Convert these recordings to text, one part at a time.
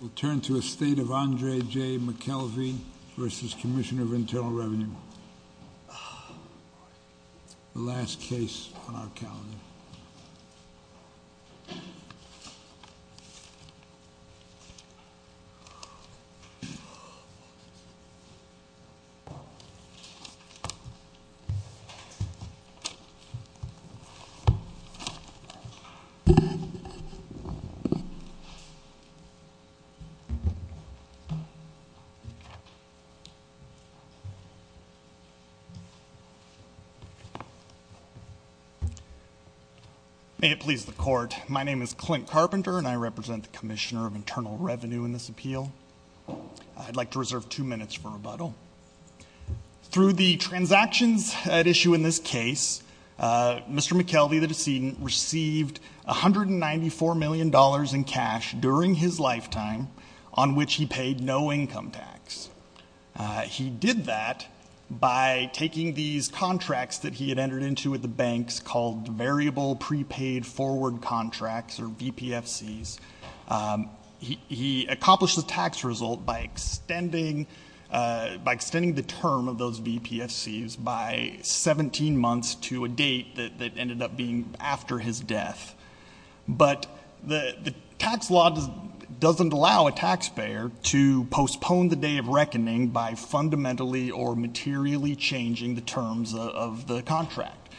We'll turn to a state of Andre J. McKelvey versus Commissioner of Internal Revenue. The last case on our calendar. May it please the court, my name is Clint Carpenter, and I represent the Commissioner of Internal Revenue in this appeal. I'd like to reserve two minutes for rebuttal. Through the transactions at issue in this case, Mr. McKelvey, the decedent, received $194 million in cash during his lifetime on which he paid no income tax. He did that by taking these contracts that he had entered into with the banks called variable prepaid forward contracts, or VPFCs. He accomplished the tax result by extending the term of those VPFCs by 17 months to a date that ended up being after his death. But the tax law doesn't allow a taxpayer to postpone the day of reckoning by fundamentally or materially changing the terms of the contract,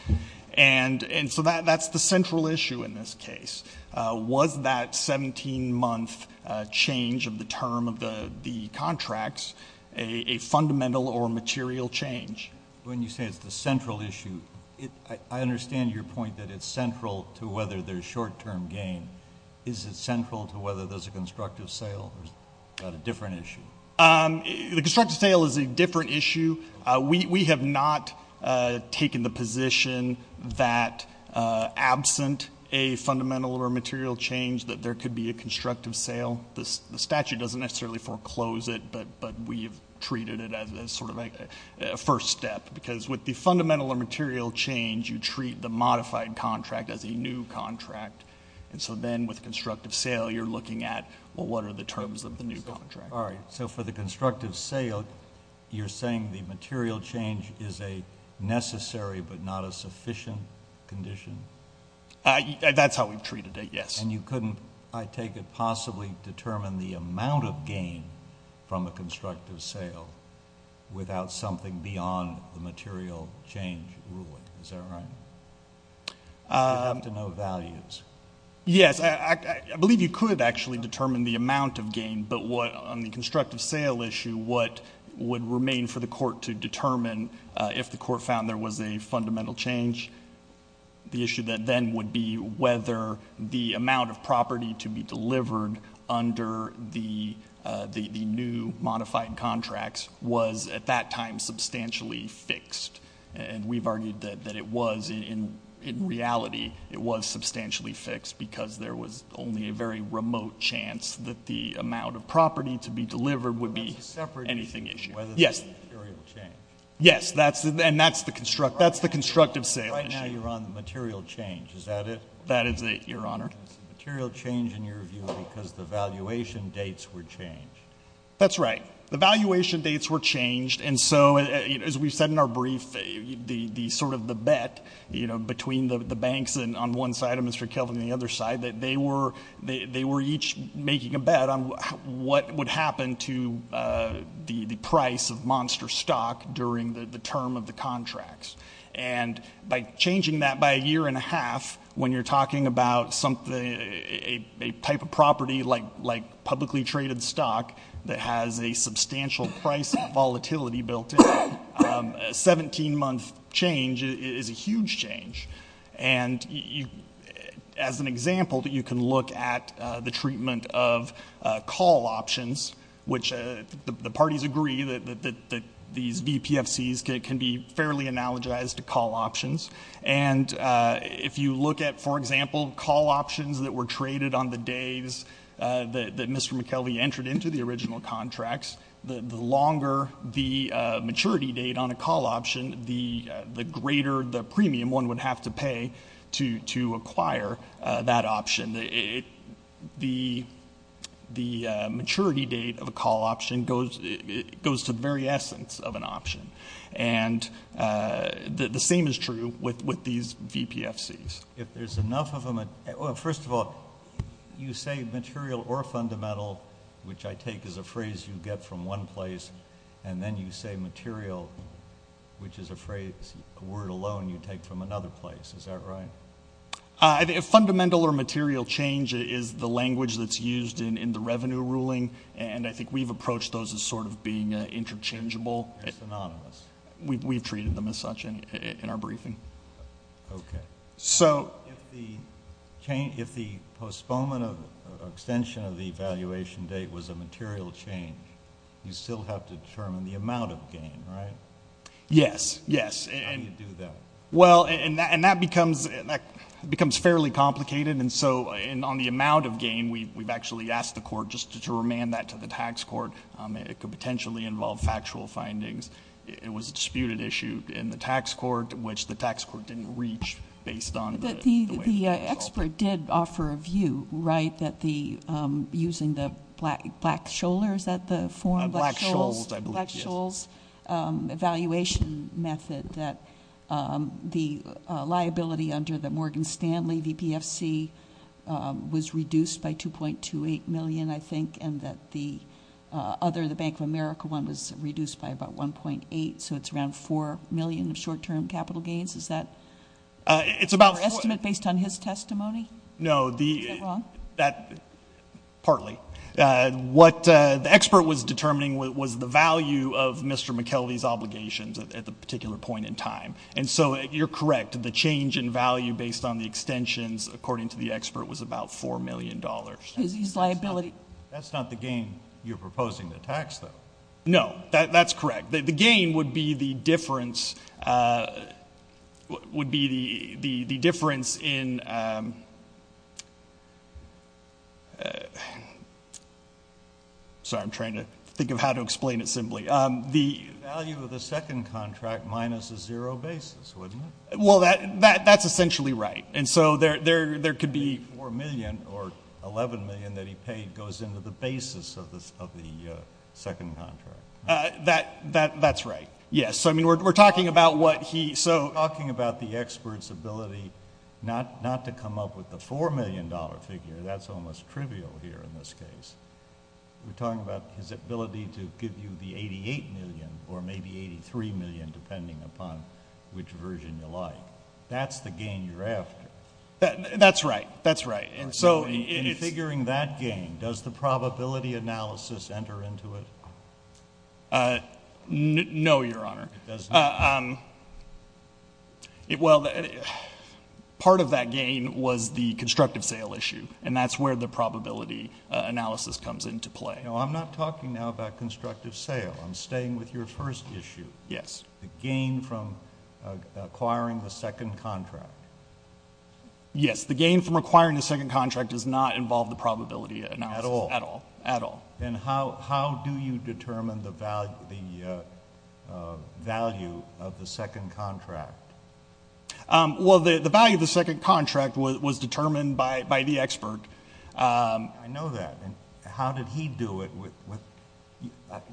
and so that's the central issue in this case. Was that 17 month change of the term of the contracts a fundamental or material change? When you say it's the central issue, I understand your point that it's central to whether there's short term gain. Is it central to whether there's a constructive sale, or is that a different issue? The constructive sale is a different issue. We have not taken the position that absent a fundamental or material change that there could be a constructive sale, the statute doesn't necessarily foreclose it, but we've treated it as sort of a first step, because with the fundamental or material change, you treat the modified contract as a new contract. And so then with constructive sale, you're looking at, well, what are the terms of the new contract? All right, so for the constructive sale, you're saying the material change is a necessary but not a sufficient condition? That's how we've treated it, yes. And you couldn't, I take it, possibly determine the amount of gain from a constructive sale without something beyond the material change ruling, is that right? You have to know values. Yes, I believe you could actually determine the amount of gain, but on the constructive sale issue, what would remain for the court to determine if the court found there was a fundamental change? The issue then would be whether the amount of property to be delivered under the new modified contracts was, at that time, substantially fixed. And we've argued that it was, in reality, it was substantially fixed, because there was only a very remote chance that the amount of property to be delivered would be anything issue. Yes. Material change. Yes, and that's the constructive sale issue. Right now you're on the material change, is that it? That is it, Your Honor. Material change, in your view, because the valuation dates were changed. That's right. The valuation dates were changed, and so, as we've said in our brief, the sort of the bet between the banks on one side and Mr. Kelvin on the other side, that they were each making a bet on what would happen to the price of monster stock during the term of the contracts. And by changing that by a year and a half, when you're talking about a type of property, like publicly traded stock, that has a substantial price volatility built in, a 17 month change is a huge change. And as an example, you can look at the treatment of call options, which the parties agree that these VPFCs can be fairly analogized to call options. And if you look at, for example, call options that were traded on the days that Mr. McKelvey entered into the original contracts, the longer the maturity date on a call option, the greater the premium one would have to pay to acquire that option. The maturity date of a call option goes to the very essence of an option. And the same is true with these VPFCs. If there's enough of them, first of all, you say material or fundamental, which I take as a phrase you get from one place, and then you say material, which is a phrase, a word alone, you take from another place. Is that right? Fundamental or material change is the language that's used in the revenue ruling. And I think we've approached those as sort of being interchangeable. They're synonymous. We've treated them as such in our briefing. Okay. So- If the postponement or extension of the valuation date was a material change, you still have to determine the amount of gain, right? Yes, yes. How do you do that? Well, and that becomes fairly complicated. And so on the amount of gain, we've actually asked the court just to remand that to the tax court. It could potentially involve factual findings. It was a disputed issue in the tax court, which the tax court didn't reach based on the way it was solved. The expert did offer a view, right? That using the Black-Scholes, is that the form? Black-Scholes, I believe, yes. Black-Scholes evaluation method, that the liability under the Morgan Stanley VPFC was reduced by 2.28 million, I think, and that the other, the Bank of America one was reduced by about 1.8, so it's around 4 million of short term capital gains. Is that your estimate based on his testimony? No, the- Is that wrong? That, partly. What the expert was determining was the value of Mr. McKelvey's obligations at the particular point in time. And so, you're correct, the change in value based on the extensions, according to the expert, was about $4 million. Is his liability- That's not the gain you're proposing to tax, though. No, that's correct. The gain would be the difference in Sorry, I'm trying to think of how to explain it simply. The- Value of the second contract minus a zero basis, wouldn't it? Well, that's essentially right. And so, there could be- $4 million or $11 million that he paid goes into the basis of the second contract. That's right, yes. So, I mean, we're talking about what he- We're talking about the expert's ability not to come up with the $4 million figure. That's almost trivial here in this case. We're talking about his ability to give you the $88 million or maybe $83 million, depending upon which version you like. That's the gain you're after. That's right. That's right. And so, it's- In figuring that gain, does the probability analysis enter into it? No, Your Honor. It doesn't? Well, part of that gain was the constructive sale issue, and that's where the probability analysis comes into play. No, I'm not talking now about constructive sale. I'm staying with your first issue. Yes. The gain from acquiring the second contract. Yes. The gain from acquiring the second contract does not involve the probability analysis. At all? At all. At all. Then how do you determine the value of the second contract? Well, the value of the second contract was determined by the expert. I know that. How did he do it?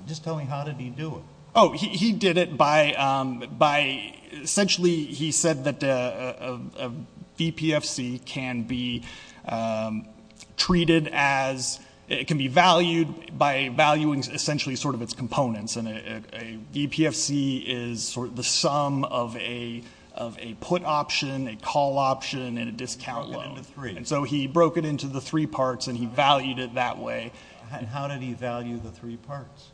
Just tell me, how did he do it? Oh, he did it by, essentially, he said that a VPFC can be treated as, it can be valued by valuing, essentially, sort of its components. And a VPFC is sort of the sum of a put option, a call option, and a discount loan. He broke it into three. And so, he broke it into the three parts, and he valued it that way. And how did he value the three parts?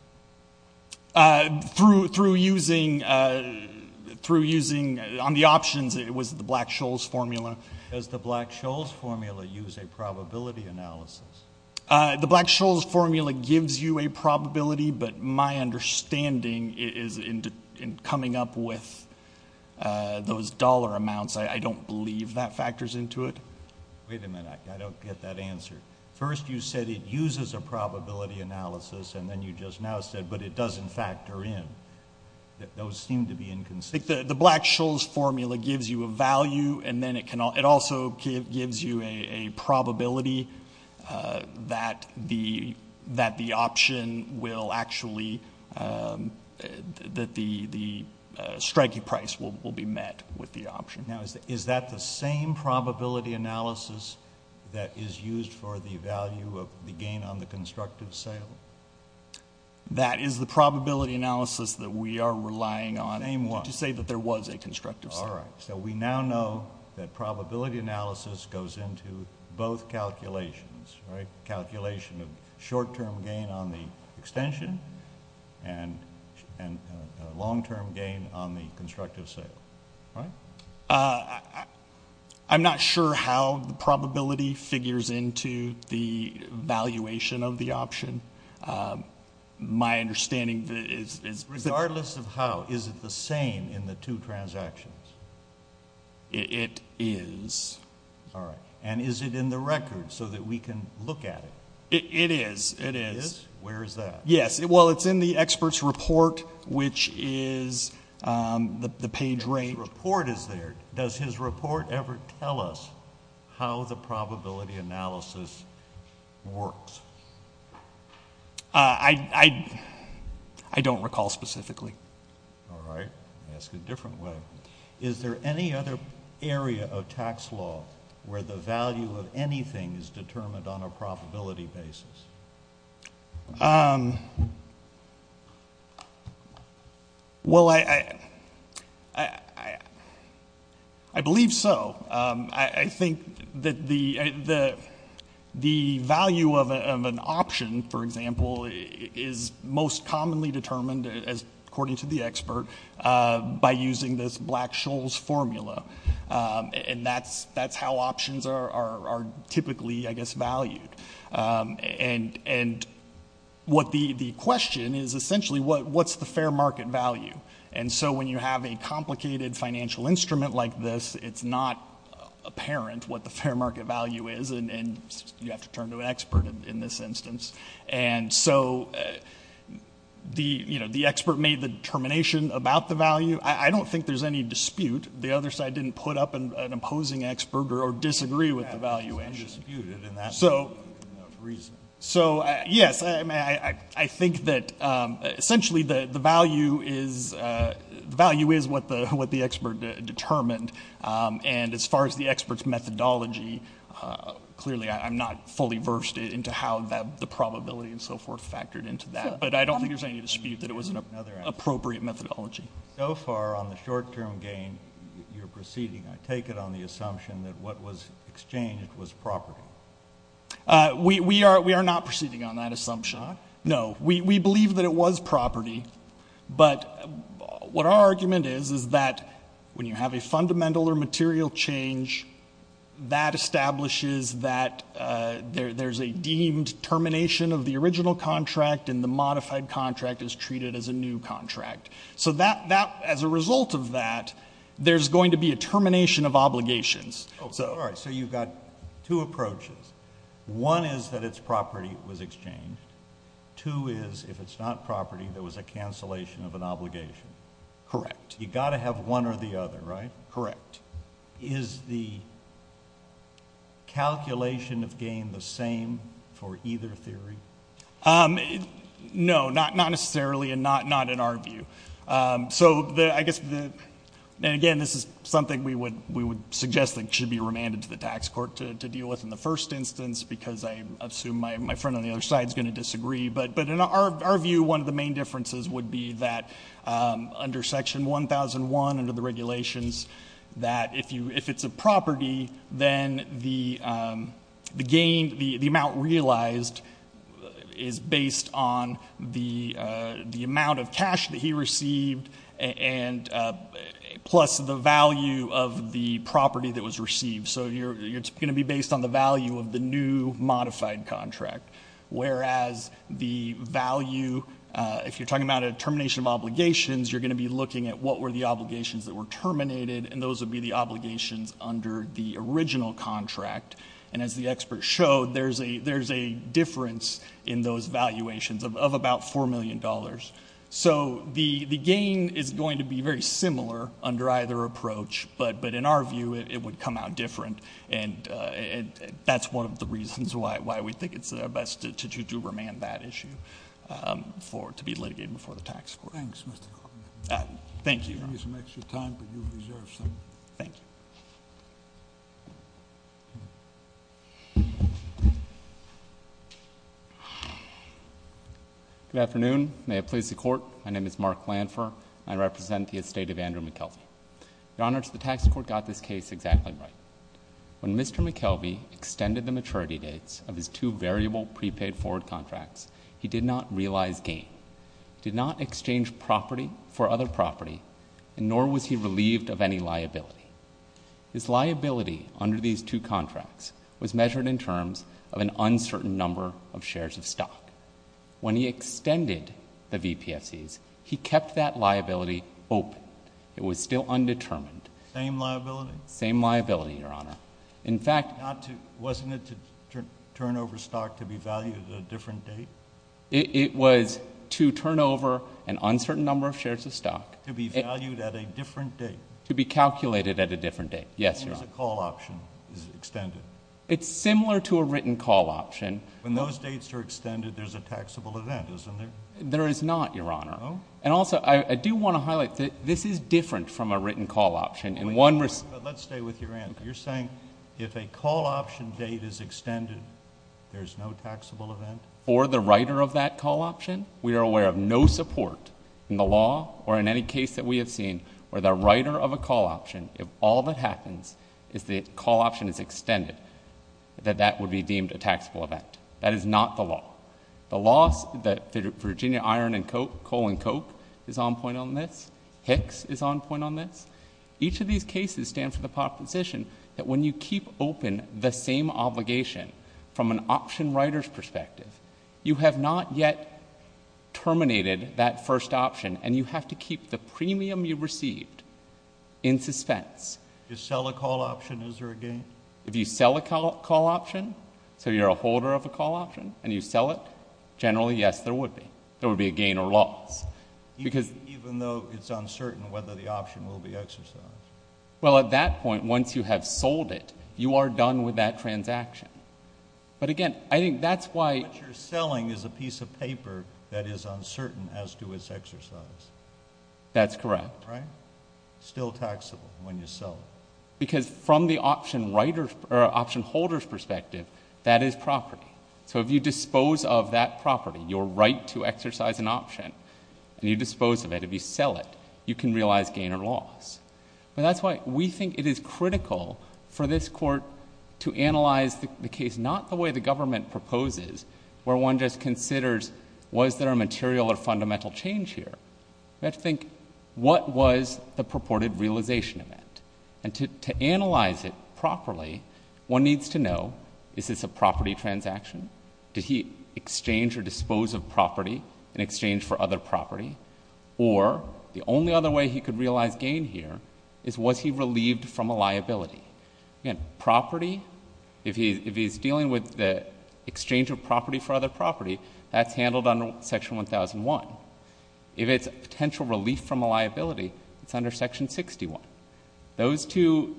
Through using, on the options, it was the Black-Scholes formula. Does the Black-Scholes formula use a probability analysis? The Black-Scholes formula gives you a probability, but my understanding is in coming up with those dollar amounts. I don't believe that factors into it. Wait a minute, I don't get that answer. First, you said it uses a probability analysis, and then you just now said, but it doesn't factor in. Those seem to be inconsistent. The Black-Scholes formula gives you a value, and then it also gives you a probability that the option will actually, that the strike price will be met with the option. Now, is that the same probability analysis that is used for the value of the gain on the constructive sale? That is the probability analysis that we are relying on. Name one. Did you say that there was a constructive sale? All right. So, we now know that probability analysis goes into both calculations, right? Calculation of short-term gain on the extension and long-term gain on the constructive sale, right? I'm not sure how the probability figures into the valuation of the option. My understanding is that— Regardless of how, is it the same in the two transactions? It is. All right. And is it in the record so that we can look at it? It is. It is. Where is that? Yes. Well, it's in the expert's report, which is the page range— The report is there. Does his report ever tell us how the probability analysis works? I don't recall specifically. All right. I'll ask it a different way. Is there any other area of tax law where the value of anything is determined on a probability basis? Well, I believe so. I think that the value of an option, for example, is most commonly determined, according to the expert, by using this Black-Scholes formula. And that's how options are typically, I guess, valued. And the question is essentially, what's the fair market value? And so when you have a complicated financial instrument like this, it's not apparent what the fair market value is. And you have to turn to an expert in this instance. And so the expert made the determination about the value. I don't think there's any dispute. The other side didn't put up an opposing expert or disagree with the valuation. There's been disputed, and that's enough reason. So yes, I think that essentially, the value is what the expert determined. And as far as the expert's methodology, clearly I'm not fully versed into how the probability and so forth factored into that. But I don't think there's any dispute that it was an appropriate methodology. So far on the short-term gain, you're proceeding, I take it, on the assumption that what was exchanged was property. We are not proceeding on that assumption. No, we believe that it was property. But what our argument is is that when you have a fundamental or material change, that establishes that there's a deemed termination of the original contract, and the modified contract is treated as a new contract. So as a result of that, there's going to be a termination of obligations. So you've got two approaches. One is that it's property was exchanged. Two is, if it's not property, there was a cancellation of an obligation. Correct. You've got to have one or the other, right? Correct. Is the calculation of gain the same for either theory? No, not necessarily, and not in our view. So I guess, again, this is something we would suggest that should be remanded to the tax court to deal with in the first instance, because I assume my friend on the other side is going to disagree. But in our view, one of the main differences would be that under Section 1001, under the regulations, that if it's a property, then the amount realized is based on the amount of cash that he received, plus the value of the property that was received. So it's going to be based on the value of the new modified contract, whereas the value, if you're talking about a termination of obligations, you're going to be looking at what were the obligations that were terminated, and those would be the obligations under the original contract. And as the expert showed, there's a difference in those valuations of about $4 million. So the gain is going to be very similar under either approach, but in our view, it would come out different. And that's one of the reasons why we think it's best to do remand that issue to be litigated before the tax court. Thanks, Mr. Coleman. Thank you. I'm going to give you some extra time, but you deserve some. Thank you. Good afternoon. May it please the court. My name is Mark Lanford. I represent the estate of Andrew McKelvey. Your Honor, the tax court got this case exactly right. When Mr. McKelvey extended the maturity dates of his two variable prepaid forward contracts, he did not realize gain, did not exchange property for other property, nor was he relieved of any liability. His liability under these two contracts was measured in terms of an uncertain number of shares of stock. When he extended the VPFCs, he kept that liability open. It was still undetermined. Same liability? Same liability, Your Honor. In fact, Wasn't it to turn over stock to be valued at a different date? It was to turn over an uncertain number of shares of stock. To be valued at a different date. To be calculated at a different date. Yes, Your Honor. If a call option is extended. It's similar to a written call option. When those dates are extended, there's a taxable event, isn't there? There is not, Your Honor. No? And also, I do want to highlight that this is different from a written call option. Let's stay with your answer. You're saying if a call option date is extended, there's no taxable event? For the writer of that call option, we are aware of no support in the law or in any case that we have seen where the writer of a call option, if all that happens is the call option is extended, that that would be deemed a taxable event. That is not the law. The laws that Virginia Iron and Coal is on point on this. Hicks is on point on this. Each of these cases stand for the proposition that when you keep open the same obligation from an option writer's perspective, you have not yet terminated that first option. And you have to keep the premium you received in suspense. To sell a call option, is there a gain? If you sell a call option, so you're a holder of a call option, and you sell it, generally, yes, there would be. There would be a gain or loss. Because- Even though it's uncertain whether the option will be exercised. Well, at that point, once you have sold it, you are done with that transaction. But again, I think that's why- What you're selling is a piece of paper that is uncertain as to its exercise. That's correct. Right? Still taxable when you sell it. Because from the option holder's perspective, that is property. So if you dispose of that property, your right to exercise an option, and you dispose of it, if you sell it, you can realize gain or loss. But that's why we think it is critical for this court to analyze the case, not the way the government proposes, where one just considers, was there a material or fundamental change here? We have to think, what was the purported realization of that? And to analyze it properly, one needs to know, is this a property transaction? Did he exchange or dispose of property in exchange for other property? Or, the only other way he could realize gain here, is was he relieved from a liability? Again, property, if he's dealing with the exchange of property for other property, that's handled under section 1001. If it's a potential relief from a liability, it's under section 61. Those two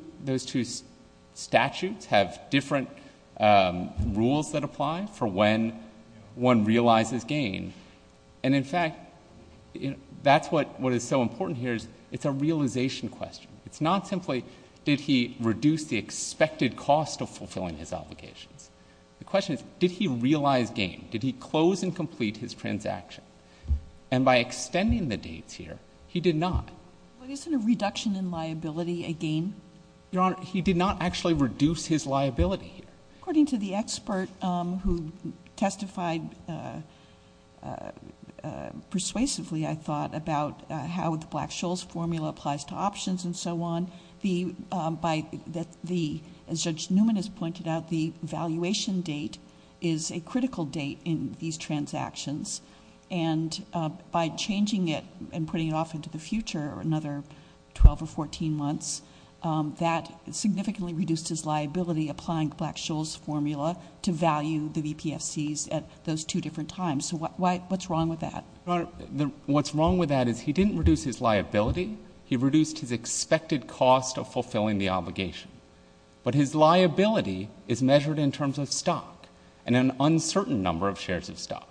statutes have different rules that apply for when one realizes gain. And in fact, that's what is so important here, is it's a realization question. It's not simply, did he reduce the expected cost of fulfilling his obligations? The question is, did he realize gain? Did he close and complete his transaction? And by extending the dates here, he did not. But isn't a reduction in liability a gain? Your Honor, he did not actually reduce his liability. According to the expert who testified persuasively, I thought, about how the Black-Scholes formula applies to options and so on. As Judge Newman has pointed out, the valuation date is a critical date in these transactions. And by changing it and putting it off into the future, another 12 or 14 months, that significantly reduced his liability, applying Black-Scholes formula to value the BPFCs at those two different times. So what's wrong with that? Your Honor, what's wrong with that is he didn't reduce his liability. He reduced his expected cost of fulfilling the obligation. But his liability is measured in terms of stock, and an uncertain number of shares of stock.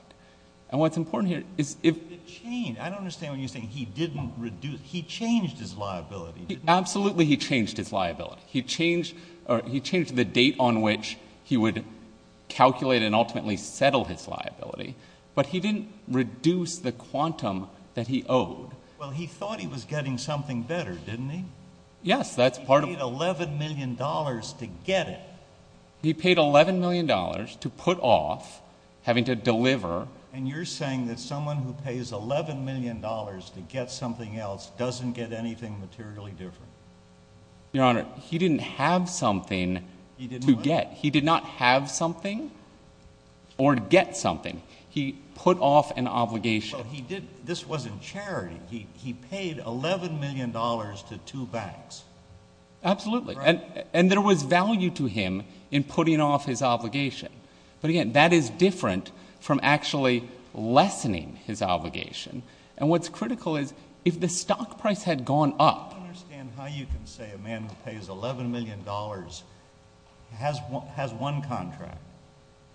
And what's important here is if it changed, I don't understand when you're saying he didn't reduce. He changed his liability, didn't he? Absolutely, he changed his liability. He changed the date on which he would calculate and ultimately settle his liability. But he didn't reduce the quantum that he owed. Well, he thought he was getting something better, didn't he? Yes, that's part of- He paid $11 million to get it. He paid $11 million to put off having to deliver. And you're saying that someone who pays $11 million to get something else doesn't get anything materially different? Your Honor, he didn't have something to get. He did not have something or get something. He put off an obligation. So he did- this wasn't charity. He paid $11 million to two banks. Absolutely, and there was value to him in putting off his obligation. But again, that is different from actually lessening his obligation. And what's critical is if the stock price had gone up- I don't understand how you can say a man who pays $11 million has one contract,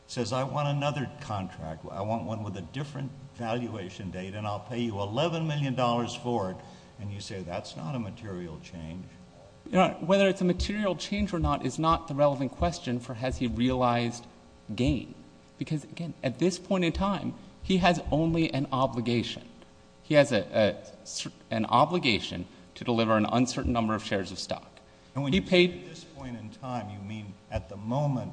says, I want another contract, I want one with a different valuation date, and I'll pay you $11 million for it. And you say that's not a material change. Your Honor, whether it's a material change or not is not the relevant question for has he realized gain. Because again, at this point in time, he has only an obligation. He has an obligation to deliver an uncertain number of shares of stock. And when you say at this point in time, you mean at the moment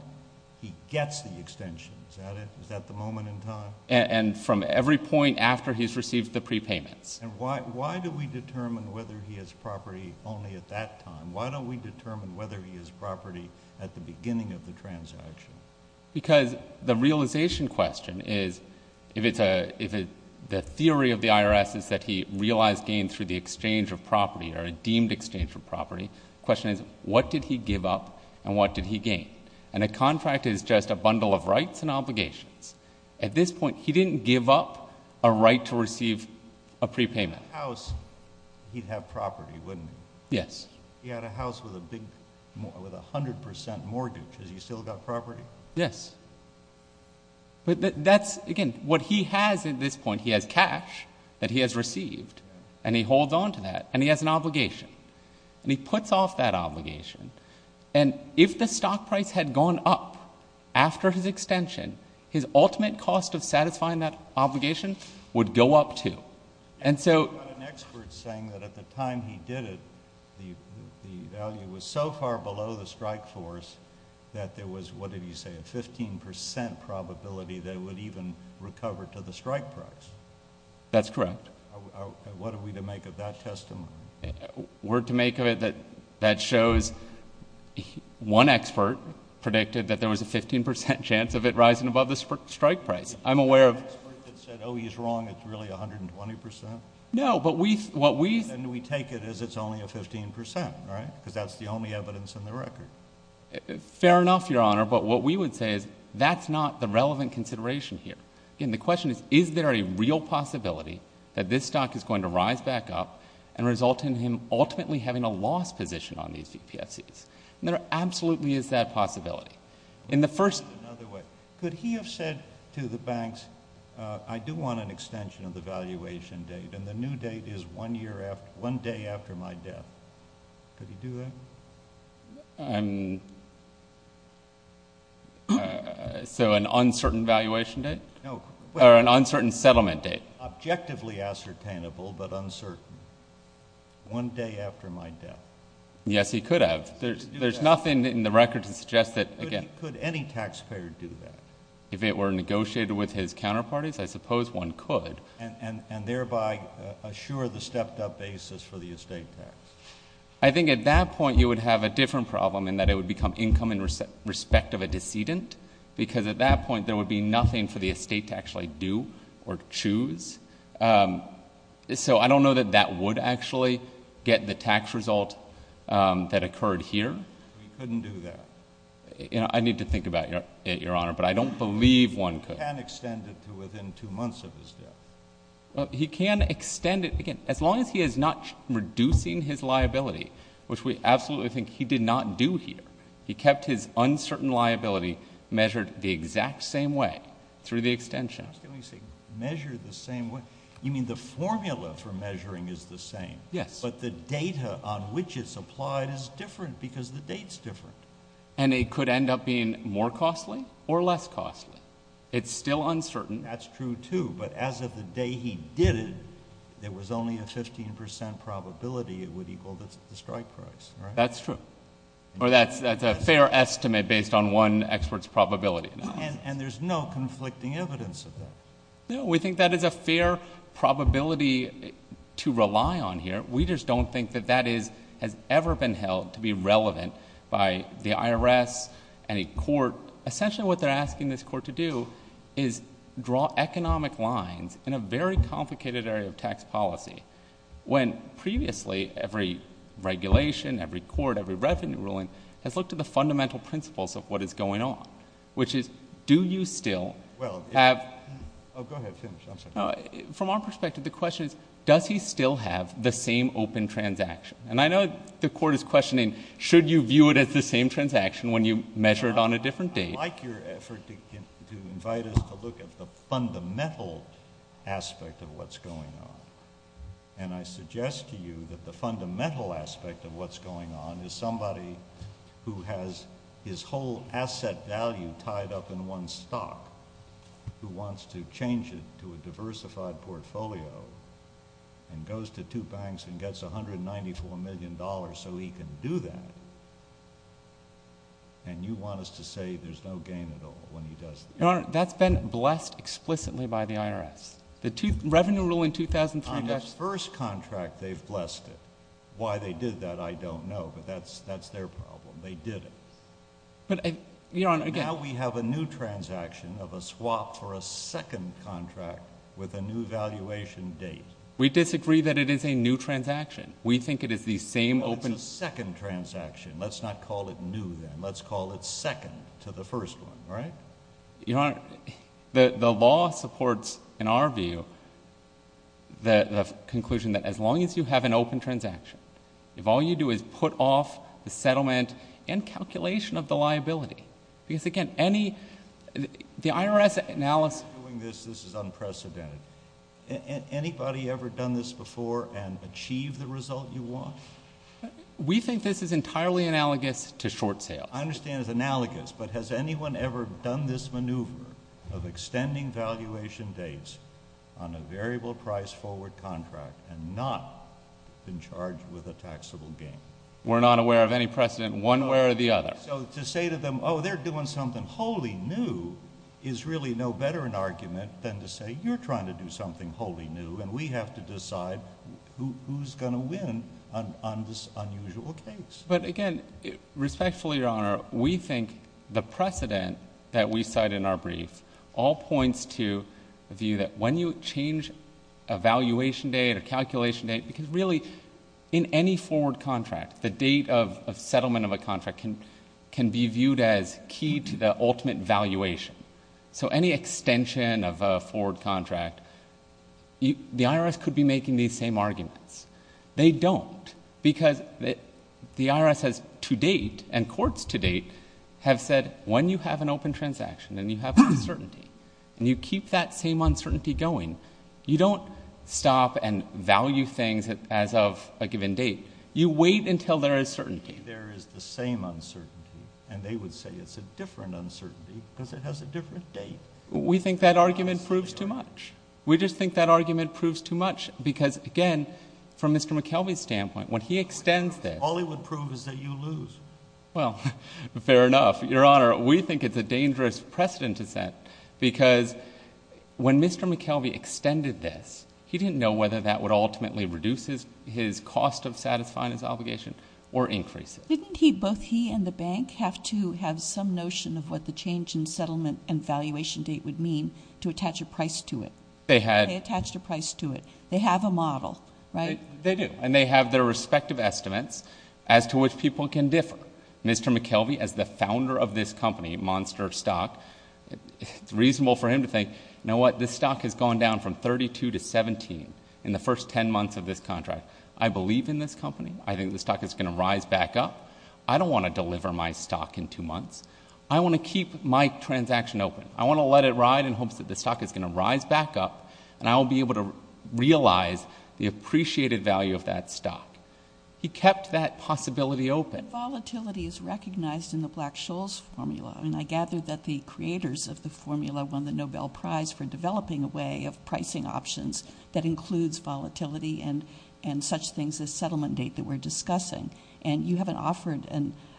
he gets the extension, is that it? Is that the moment in time? And from every point after he's received the prepayments. And why do we determine whether he has property only at that time? Why don't we determine whether he has property at the beginning of the transaction? Because the realization question is, if the theory of the IRS is that he realized gain through the exchange of property or a deemed exchange of property. Question is, what did he give up and what did he gain? And a contract is just a bundle of rights and obligations. At this point, he didn't give up a right to receive a prepayment. House, he'd have property, wouldn't he? Yes. He had a house with a 100% mortgage. Has he still got property? Yes. But that's, again, what he has at this point, he has cash that he has received. And he holds on to that and he has an obligation. And he puts off that obligation. And if the stock price had gone up after his extension, his ultimate cost of satisfying that obligation would go up too. And so- You've got an expert saying that at the time he did it, the value was so far below the strike force that there was, what did he say, a 15% probability that it would even recover to the strike price. That's correct. What are we to make of that testimony? Word to make of it, that shows one expert predicted that there was a 15% chance of it rising above the strike price. I'm aware of- The expert that said, he's wrong, it's really 120%? No, but we, what we- And we take it as it's only a 15%, right? Because that's the only evidence in the record. Fair enough, Your Honor. But what we would say is, that's not the relevant consideration here. And the question is, is there a real possibility that this stock is going to result in him ultimately having a loss position on these VPFCs? And there absolutely is that possibility. In the first- Another way. Could he have said to the banks, I do want an extension of the valuation date, and the new date is one year after, one day after my death. Could he do that? So an uncertain valuation date? No. Or an uncertain settlement date? Objectively ascertainable, but uncertain. One day after my death. Yes, he could have. There's nothing in the record to suggest that, again- Could any taxpayer do that? If it were negotiated with his counterparties, I suppose one could. And thereby assure the stepped up basis for the estate tax. I think at that point, you would have a different problem in that it would become income in respect of a decedent. Because at that point, there would be nothing for the estate to actually do or choose. So I don't know that that would actually get the tax result that occurred here. He couldn't do that. I need to think about it, Your Honor, but I don't believe one could. He can extend it to within two months of his death. He can extend it, again, as long as he is not reducing his liability, which we absolutely think he did not do here. He kept his uncertain liability measured the exact same way through the extension. You're asking me to say measure the same way. You mean the formula for measuring is the same. Yes. But the data on which it's applied is different because the date's different. And it could end up being more costly or less costly. It's still uncertain. That's true, too. But as of the day he did it, there was only a 15% probability it would equal the strike price, right? That's true. Or that's a fair estimate based on one expert's probability. And there's no conflicting evidence of that? No. We think that is a fair probability to rely on here. We just don't think that that has ever been held to be relevant by the IRS and a court. Essentially what they're asking this court to do is draw economic lines in a very complicated area of tax policy when previously every regulation, every court, every revenue ruling has looked at the fundamental principles of what is going on, which is, do you still have — Oh, go ahead. Finish. I'm sorry. No. From our perspective, the question is, does he still have the same open transaction? And I know the court is questioning, should you view it as the same transaction when you measure it on a different date? I like your effort to invite us to look at the fundamental aspect of what's going on. And I suggest to you that the fundamental aspect of what's going on is somebody who has his whole asset value tied up in one stock who wants to change it to a diversified portfolio and goes to two banks and gets $194 million so he can do that, and you want us to say there's no gain at all when he does that? Your Honor, that's been blessed explicitly by the IRS. The revenue ruling 2003 — On the first contract, they've blessed it. Why they did that, I don't know, but that's their problem. They did it. But, Your Honor, again — Now we have a new transaction of a swap for a second contract with a new valuation date. We disagree that it is a new transaction. We think it is the same open — Well, it's a second transaction. Let's not call it new then. Let's call it second to the first one, right? Your Honor, the law supports, in our view, the conclusion that as long as you have an open transaction, if all you do is put off the settlement and calculation of the liability — because, again, any — the IRS analysis — In doing this, this is unprecedented. Anybody ever done this before and achieved the result you want? We think this is entirely analogous to short sale. I understand it's analogous, but has anyone ever done this maneuver of extending valuation dates on a variable price forward contract and not been charged with a taxable gain? We're not aware of any precedent one way or the other. So to say to them, oh, they're doing something wholly new is really no better an argument than to say you're trying to do something wholly new and we have to decide who's going to win on this unusual case. But again, respectfully, Your Honor, we think the precedent that we cite in our brief all points to the view that when you change a valuation date or calculation date — because really, in any forward contract, the date of settlement of a contract can be viewed as key to the ultimate valuation. So any extension of a forward contract, the IRS could be making these same arguments. They don't because the IRS has to date and courts to date have said when you have an open transaction and you have uncertainty and you keep that same uncertainty going, you don't stop and value things as of a given date. You wait until there is certainty. There is the same uncertainty, and they would say it's a different uncertainty because it has a different date. We think that argument proves too much. Because again, from Mr. McKelvey's standpoint, when he extends this — All he would prove is that you lose. Well, fair enough, Your Honor. We think it's a dangerous precedent to set because when Mr. McKelvey extended this, he didn't know whether that would ultimately reduce his cost of satisfying his obligation or increase it. Didn't he, both he and the bank, have to have some notion of what the change in settlement They had — They attached a price to it. They have a model. Right? They do. And they have their respective estimates as to which people can differ. Mr. McKelvey, as the founder of this company, Monster Stock, it's reasonable for him to think, you know what, this stock has gone down from 32 to 17 in the first 10 months of this contract. I believe in this company. I think the stock is going to rise back up. I don't want to deliver my stock in two months. I want to keep my transaction open. I want to let it ride in hopes that the stock is going to rise back up, and I will be able to realize the appreciated value of that stock. He kept that possibility open. Volatility is recognized in the Black-Scholes formula, and I gather that the creators of the formula won the Nobel Prize for developing a way of pricing options that includes volatility and such things as settlement date that we're discussing. And you haven't offered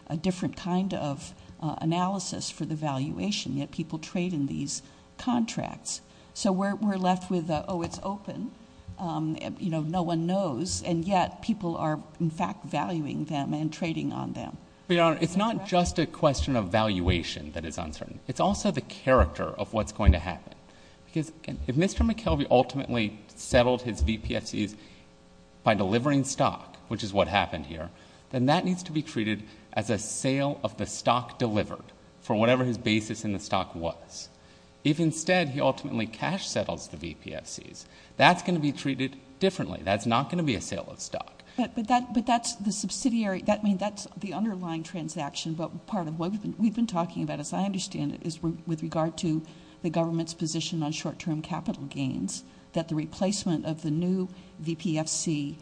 a different kind of analysis for the valuation, yet people trade in these contracts. So we're left with, oh, it's open, you know, no one knows, and yet people are, in fact, valuing them and trading on them. But, Your Honor, it's not just a question of valuation that is uncertain. It's also the character of what's going to happen, because, again, if Mr. McKelvey ultimately settled his VPFCs by delivering stock, which is what happened here, then that needs to be treated as a sale of the stock delivered for whatever his basis in the stock was. If instead he ultimately cash settles the VPFCs, that's going to be treated differently. That's not going to be a sale of stock. But that's the subsidiary, I mean, that's the underlying transaction, but part of what we've been talking about, as I understand it, is with regard to the government's position on short-term capital gains, that the replacement of the new VPFC,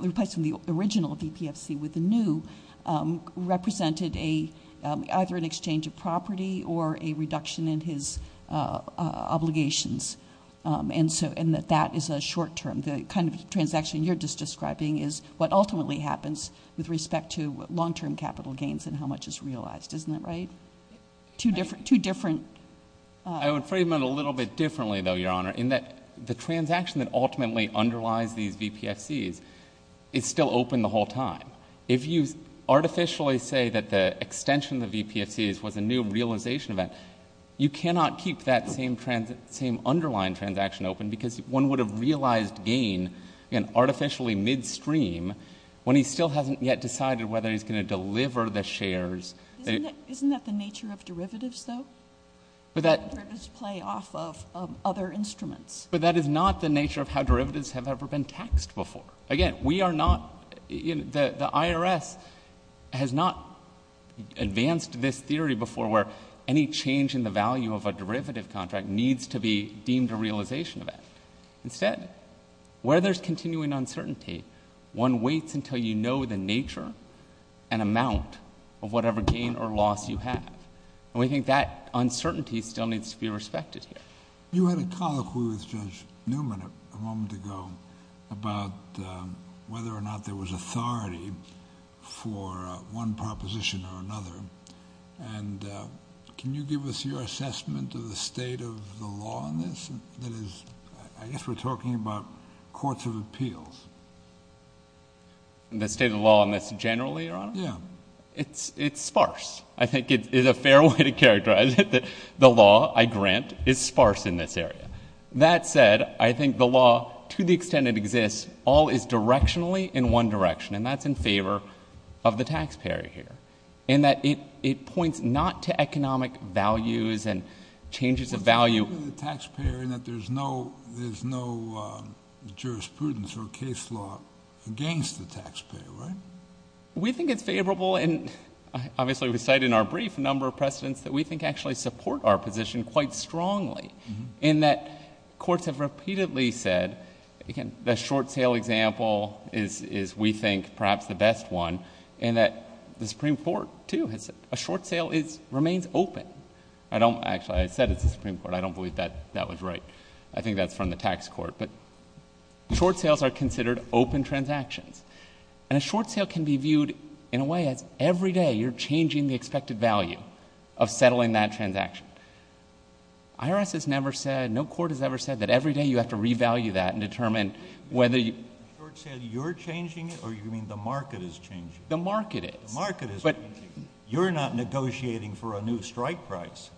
replacing the original VPFC with the new, represented either an exchange of property or a reduction in his obligations, and that that is a short-term, the kind of transaction you're just describing is what ultimately happens with respect to long-term capital gains and how much is realized. Isn't that right? Two different— I would frame it a little bit differently, though, Your Honor, in that the transaction that ultimately underlies these VPFCs is still open the whole time. If you artificially say that the extension of the VPFCs was a new realization event, you cannot keep that same underlying transaction open because one would have realized gain in artificially midstream when he still hasn't yet decided whether he's going to deliver Isn't that the nature of derivatives, though? Derivatives play off of other instruments. But that is not the nature of how derivatives have ever been taxed before. Again, we are not—the IRS has not advanced this theory before where any change in the value of a derivative contract needs to be deemed a realization event. Instead, where there's continuing uncertainty, one waits until you know the nature and amount of whatever gain or loss you have. And we think that uncertainty still needs to be respected here. You had a colloquy with Judge Newman a moment ago about whether or not there was authority for one proposition or another. And can you give us your assessment of the state of the law on this? That is, I guess we're talking about courts of appeals. The state of the law on this generally, Your Honor? Yeah. It's sparse. I think it is a fair way to characterize it that the law I grant is sparse in this area. That said, I think the law, to the extent it exists, all is directionally in one direction. And that's in favor of the taxpayer here. In that it points not to economic values and changes of value— It's in favor of the taxpayer in that there's no jurisprudence or case law against the taxpayer, right? We think it's favorable, and obviously we cite in our brief a number of precedents that we think actually support our position quite strongly, in that courts have repeatedly said—the short sale example is, we think, perhaps the best one— in that the Supreme Court, too, has said a short sale remains open. Actually, I said it's the Supreme Court. I don't believe that that was right. I think that's from the tax court. But short sales are considered open transactions. And a short sale can be viewed in a way as every day you're changing the expected value of settling that transaction. IRS has never said, no court has ever said, that every day you have to revalue that and determine whether you— A short sale, you're changing it, or you mean the market is changing it? The market is. The market is changing it. You're not negotiating for a new strike price.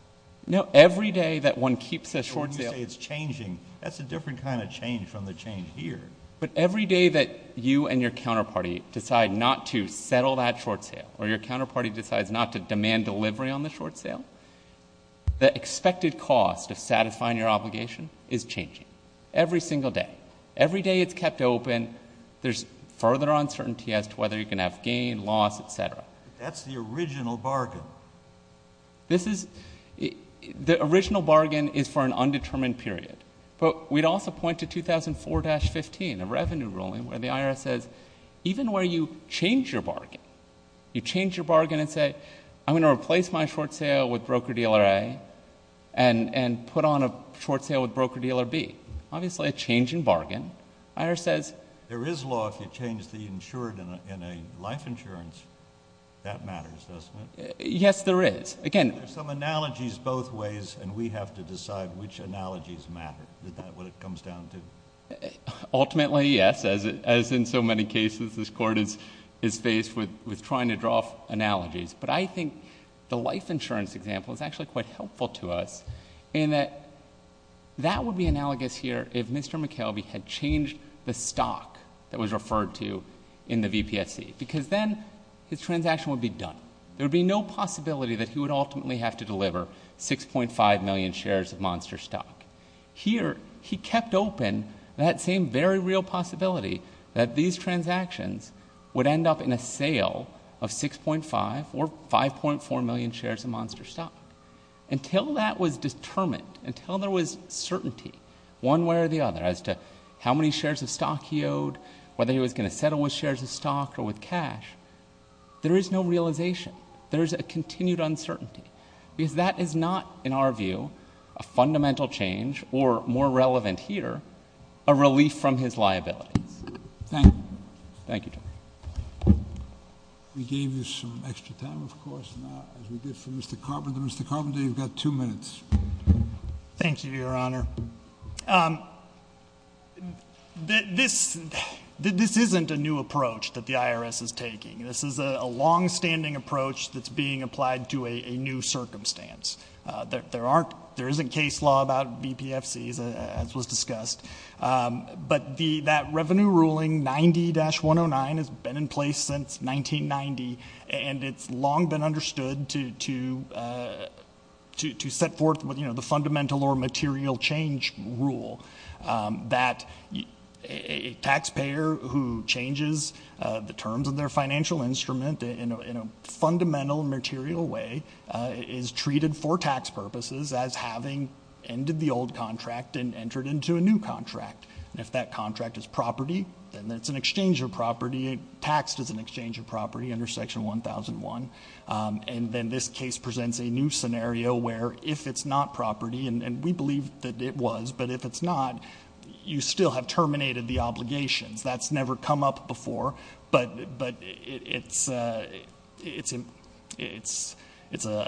No, every day that one keeps a short sale— When you say it's changing, that's a different kind of change from the change here. But every day that you and your counterparty decide not to settle that short sale or your counterparty decides not to demand delivery on the short sale, the expected cost of satisfying your obligation is changing. Every single day. Every day it's kept open, there's further uncertainty as to whether you can have gain, loss, etc. That's the original bargain. This is—the original bargain is for an undetermined period. But we'd also point to 2004-15, the revenue ruling, where the IRS says even where you change your bargain, you change your bargain and say, I'm going to replace my short sale with broker-dealer A and put on a short sale with broker-dealer B. Obviously a change in bargain. The IRS says— There is law if you change the insured in a life insurance. That matters, doesn't it? Yes, there is. There are some analogies both ways and we have to decide which analogies matter. Is that what it comes down to? Ultimately, yes. As in so many cases, this Court is faced with trying to draw analogies. But I think the life insurance example is actually quite helpful to us in that that would be analogous here if Mr. McKelvey had changed the stock that was referred to in the VPSC. Because then his transaction would be done. There would be no possibility that he would ultimately have to deliver 6.5 million shares of Monster stock. Here, he kept open that same very real possibility that these transactions would end up in a sale of 6.5 or 5.4 million shares of Monster stock. Until that was determined, until there was certainty one way or the other as to how many shares of stock he owed, there is no realization. There is a continued uncertainty. Because that is not, in our view, a fundamental change or, more relevant here, a relief from his liabilities. Thank you. Thank you. We gave you some extra time, of course, as we did for Mr. Carpenter. Mr. Carpenter, you've got two minutes. Thank you, Your Honor. This isn't a new approach that the IRS is taking. This is a longstanding approach that's being applied to a new circumstance. There isn't case law about VPFCs, as was discussed. But that Revenue Ruling 90-109 has been in place since 1990, and it's long been understood to set forth the fundamental or material change rule that a taxpayer who changes the terms of their financial instrument in a fundamental, material way, is treated for tax purposes as having ended the old contract and entered into a new contract. If that contract is property, then it's an exchange of property. It's taxed as an exchange of property under Section 1001. And then this case presents a new scenario where, if it's not property, and we believe that it was, but if it's not, you still have terminated the obligations. That's never come up before, but it's a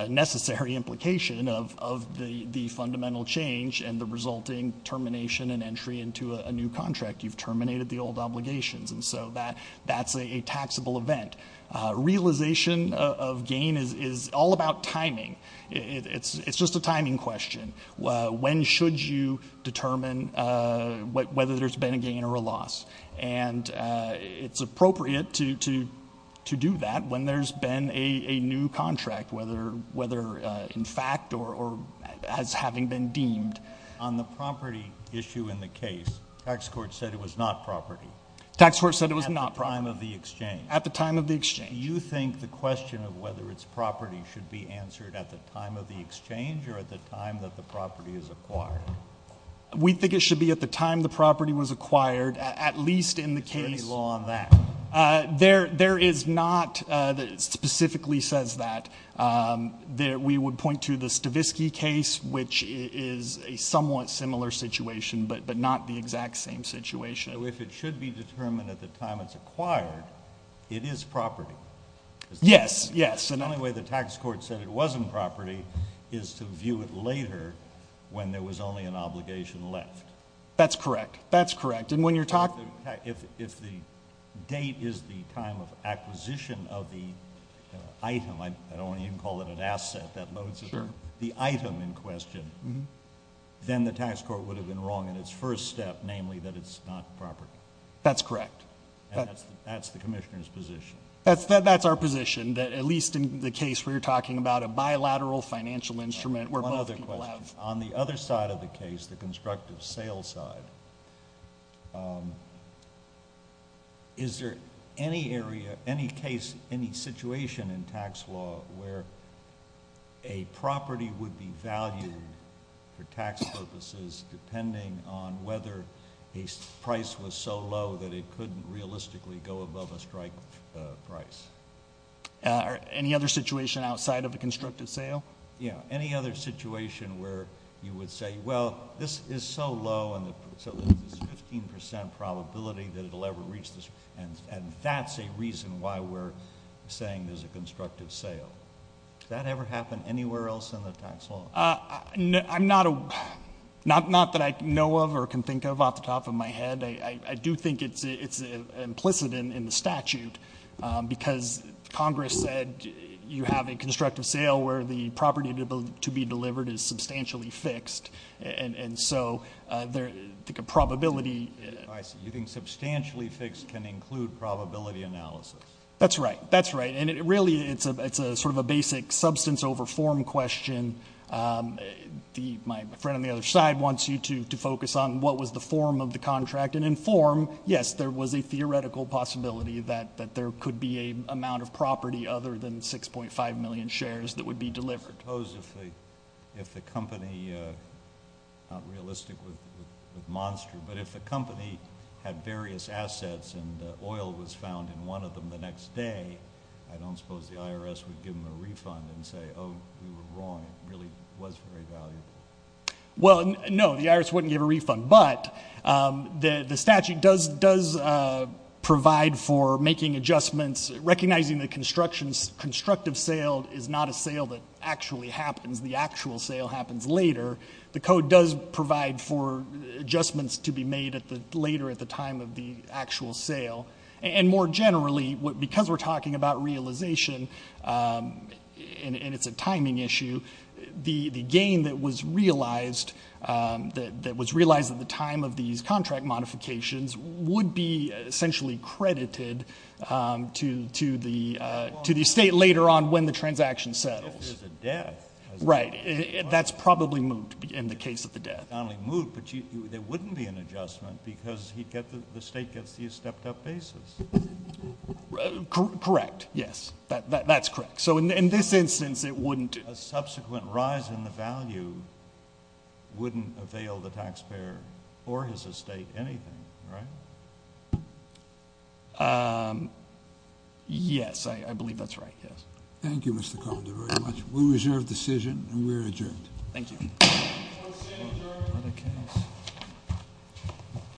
necessary implication of the fundamental change and the resulting termination and entry into a new contract. You've terminated the old obligations, and so that's a taxable event. Realization of gain is all about timing. It's just a timing question. When should you determine whether there's been a gain or a loss? And it's appropriate to do that when there's been a new contract, whether in fact or as having been deemed. On the property issue in the case, tax court said it was not property. Tax court said it was not property. At the time of the exchange. At the time of the exchange. Do you think the question of whether it's property should be answered at the time of the exchange or at the time that the property is acquired? We think it should be at the time the property was acquired, at least in the case. Is there any law on that? There is not that specifically says that. We would point to the Stavisky case, which is a somewhat similar situation, but not the exact same situation. So if it should be determined at the time it's acquired, it is property. Yes, yes. The only way the tax court said it wasn't property is to view it later when there was only an obligation left. That's correct. That's correct. And when you're talking. If the date is the time of acquisition of the item, I don't want to even call it an asset, that loads the item in question, then the tax court would have been wrong in its first step, namely that it's not property. That's correct. That's the commissioner's position. That's our position, that at least in the case where you're talking about a bilateral financial instrument where both people have. One other question. On the other side of the case, the constructive sales side, is there any area, any case, any situation in tax law where a property would be valued for tax purposes depending on whether a price was so low that it couldn't realistically go above a strike price? Any other situation outside of a constructive sale? Yeah. Any other situation where you would say, well, this is so low, and so there's this 15% probability that it'll ever reach this, and that's a reason why we're saying there's a constructive sale. Does that ever happen anywhere else in the tax law? I'm not a, not that I know of or can think of off the top of my head. I do think it's implicit in the statute, because Congress said you have a constructive sale where the property to be delivered is substantially fixed, and so I think a probability. I see. You think substantially fixed can include probability analysis. That's right. That's right. Really, it's sort of a basic substance over form question. My friend on the other side wants you to focus on what was the form of the contract, and in form, yes, there was a theoretical possibility that there could be a amount of property other than 6.5 million shares that would be delivered. Suppose if the company, not realistic with Monster, but if the company had various assets and oil was found in one of them the next day, I don't suppose the IRS would give them a refund and say, oh, we were wrong. It really was very valuable. Well, no, the IRS wouldn't give a refund, but the statute does provide for making adjustments, recognizing the constructive sale is not a sale that actually happens. The actual sale happens later. The code does provide for adjustments to be made later at the time of the actual sale, and more generally, because we're talking about realization and it's a timing issue, the gain that was realized at the time of these contract modifications would be essentially credited to the state later on when the transaction settles. If there's a death. Right. That's probably moot in the case of the death. It's not only moot, but there wouldn't be an adjustment because the state gets these stepped-up basis. Correct, yes. That's correct. So in this instance, it wouldn't. A subsequent rise in the value wouldn't avail the taxpayer or his estate anything, right? Yes, I believe that's right, yes. Thank you, Mr. Calder, very much. We reserve decision and we're adjourned. Thank you. We're adjourned.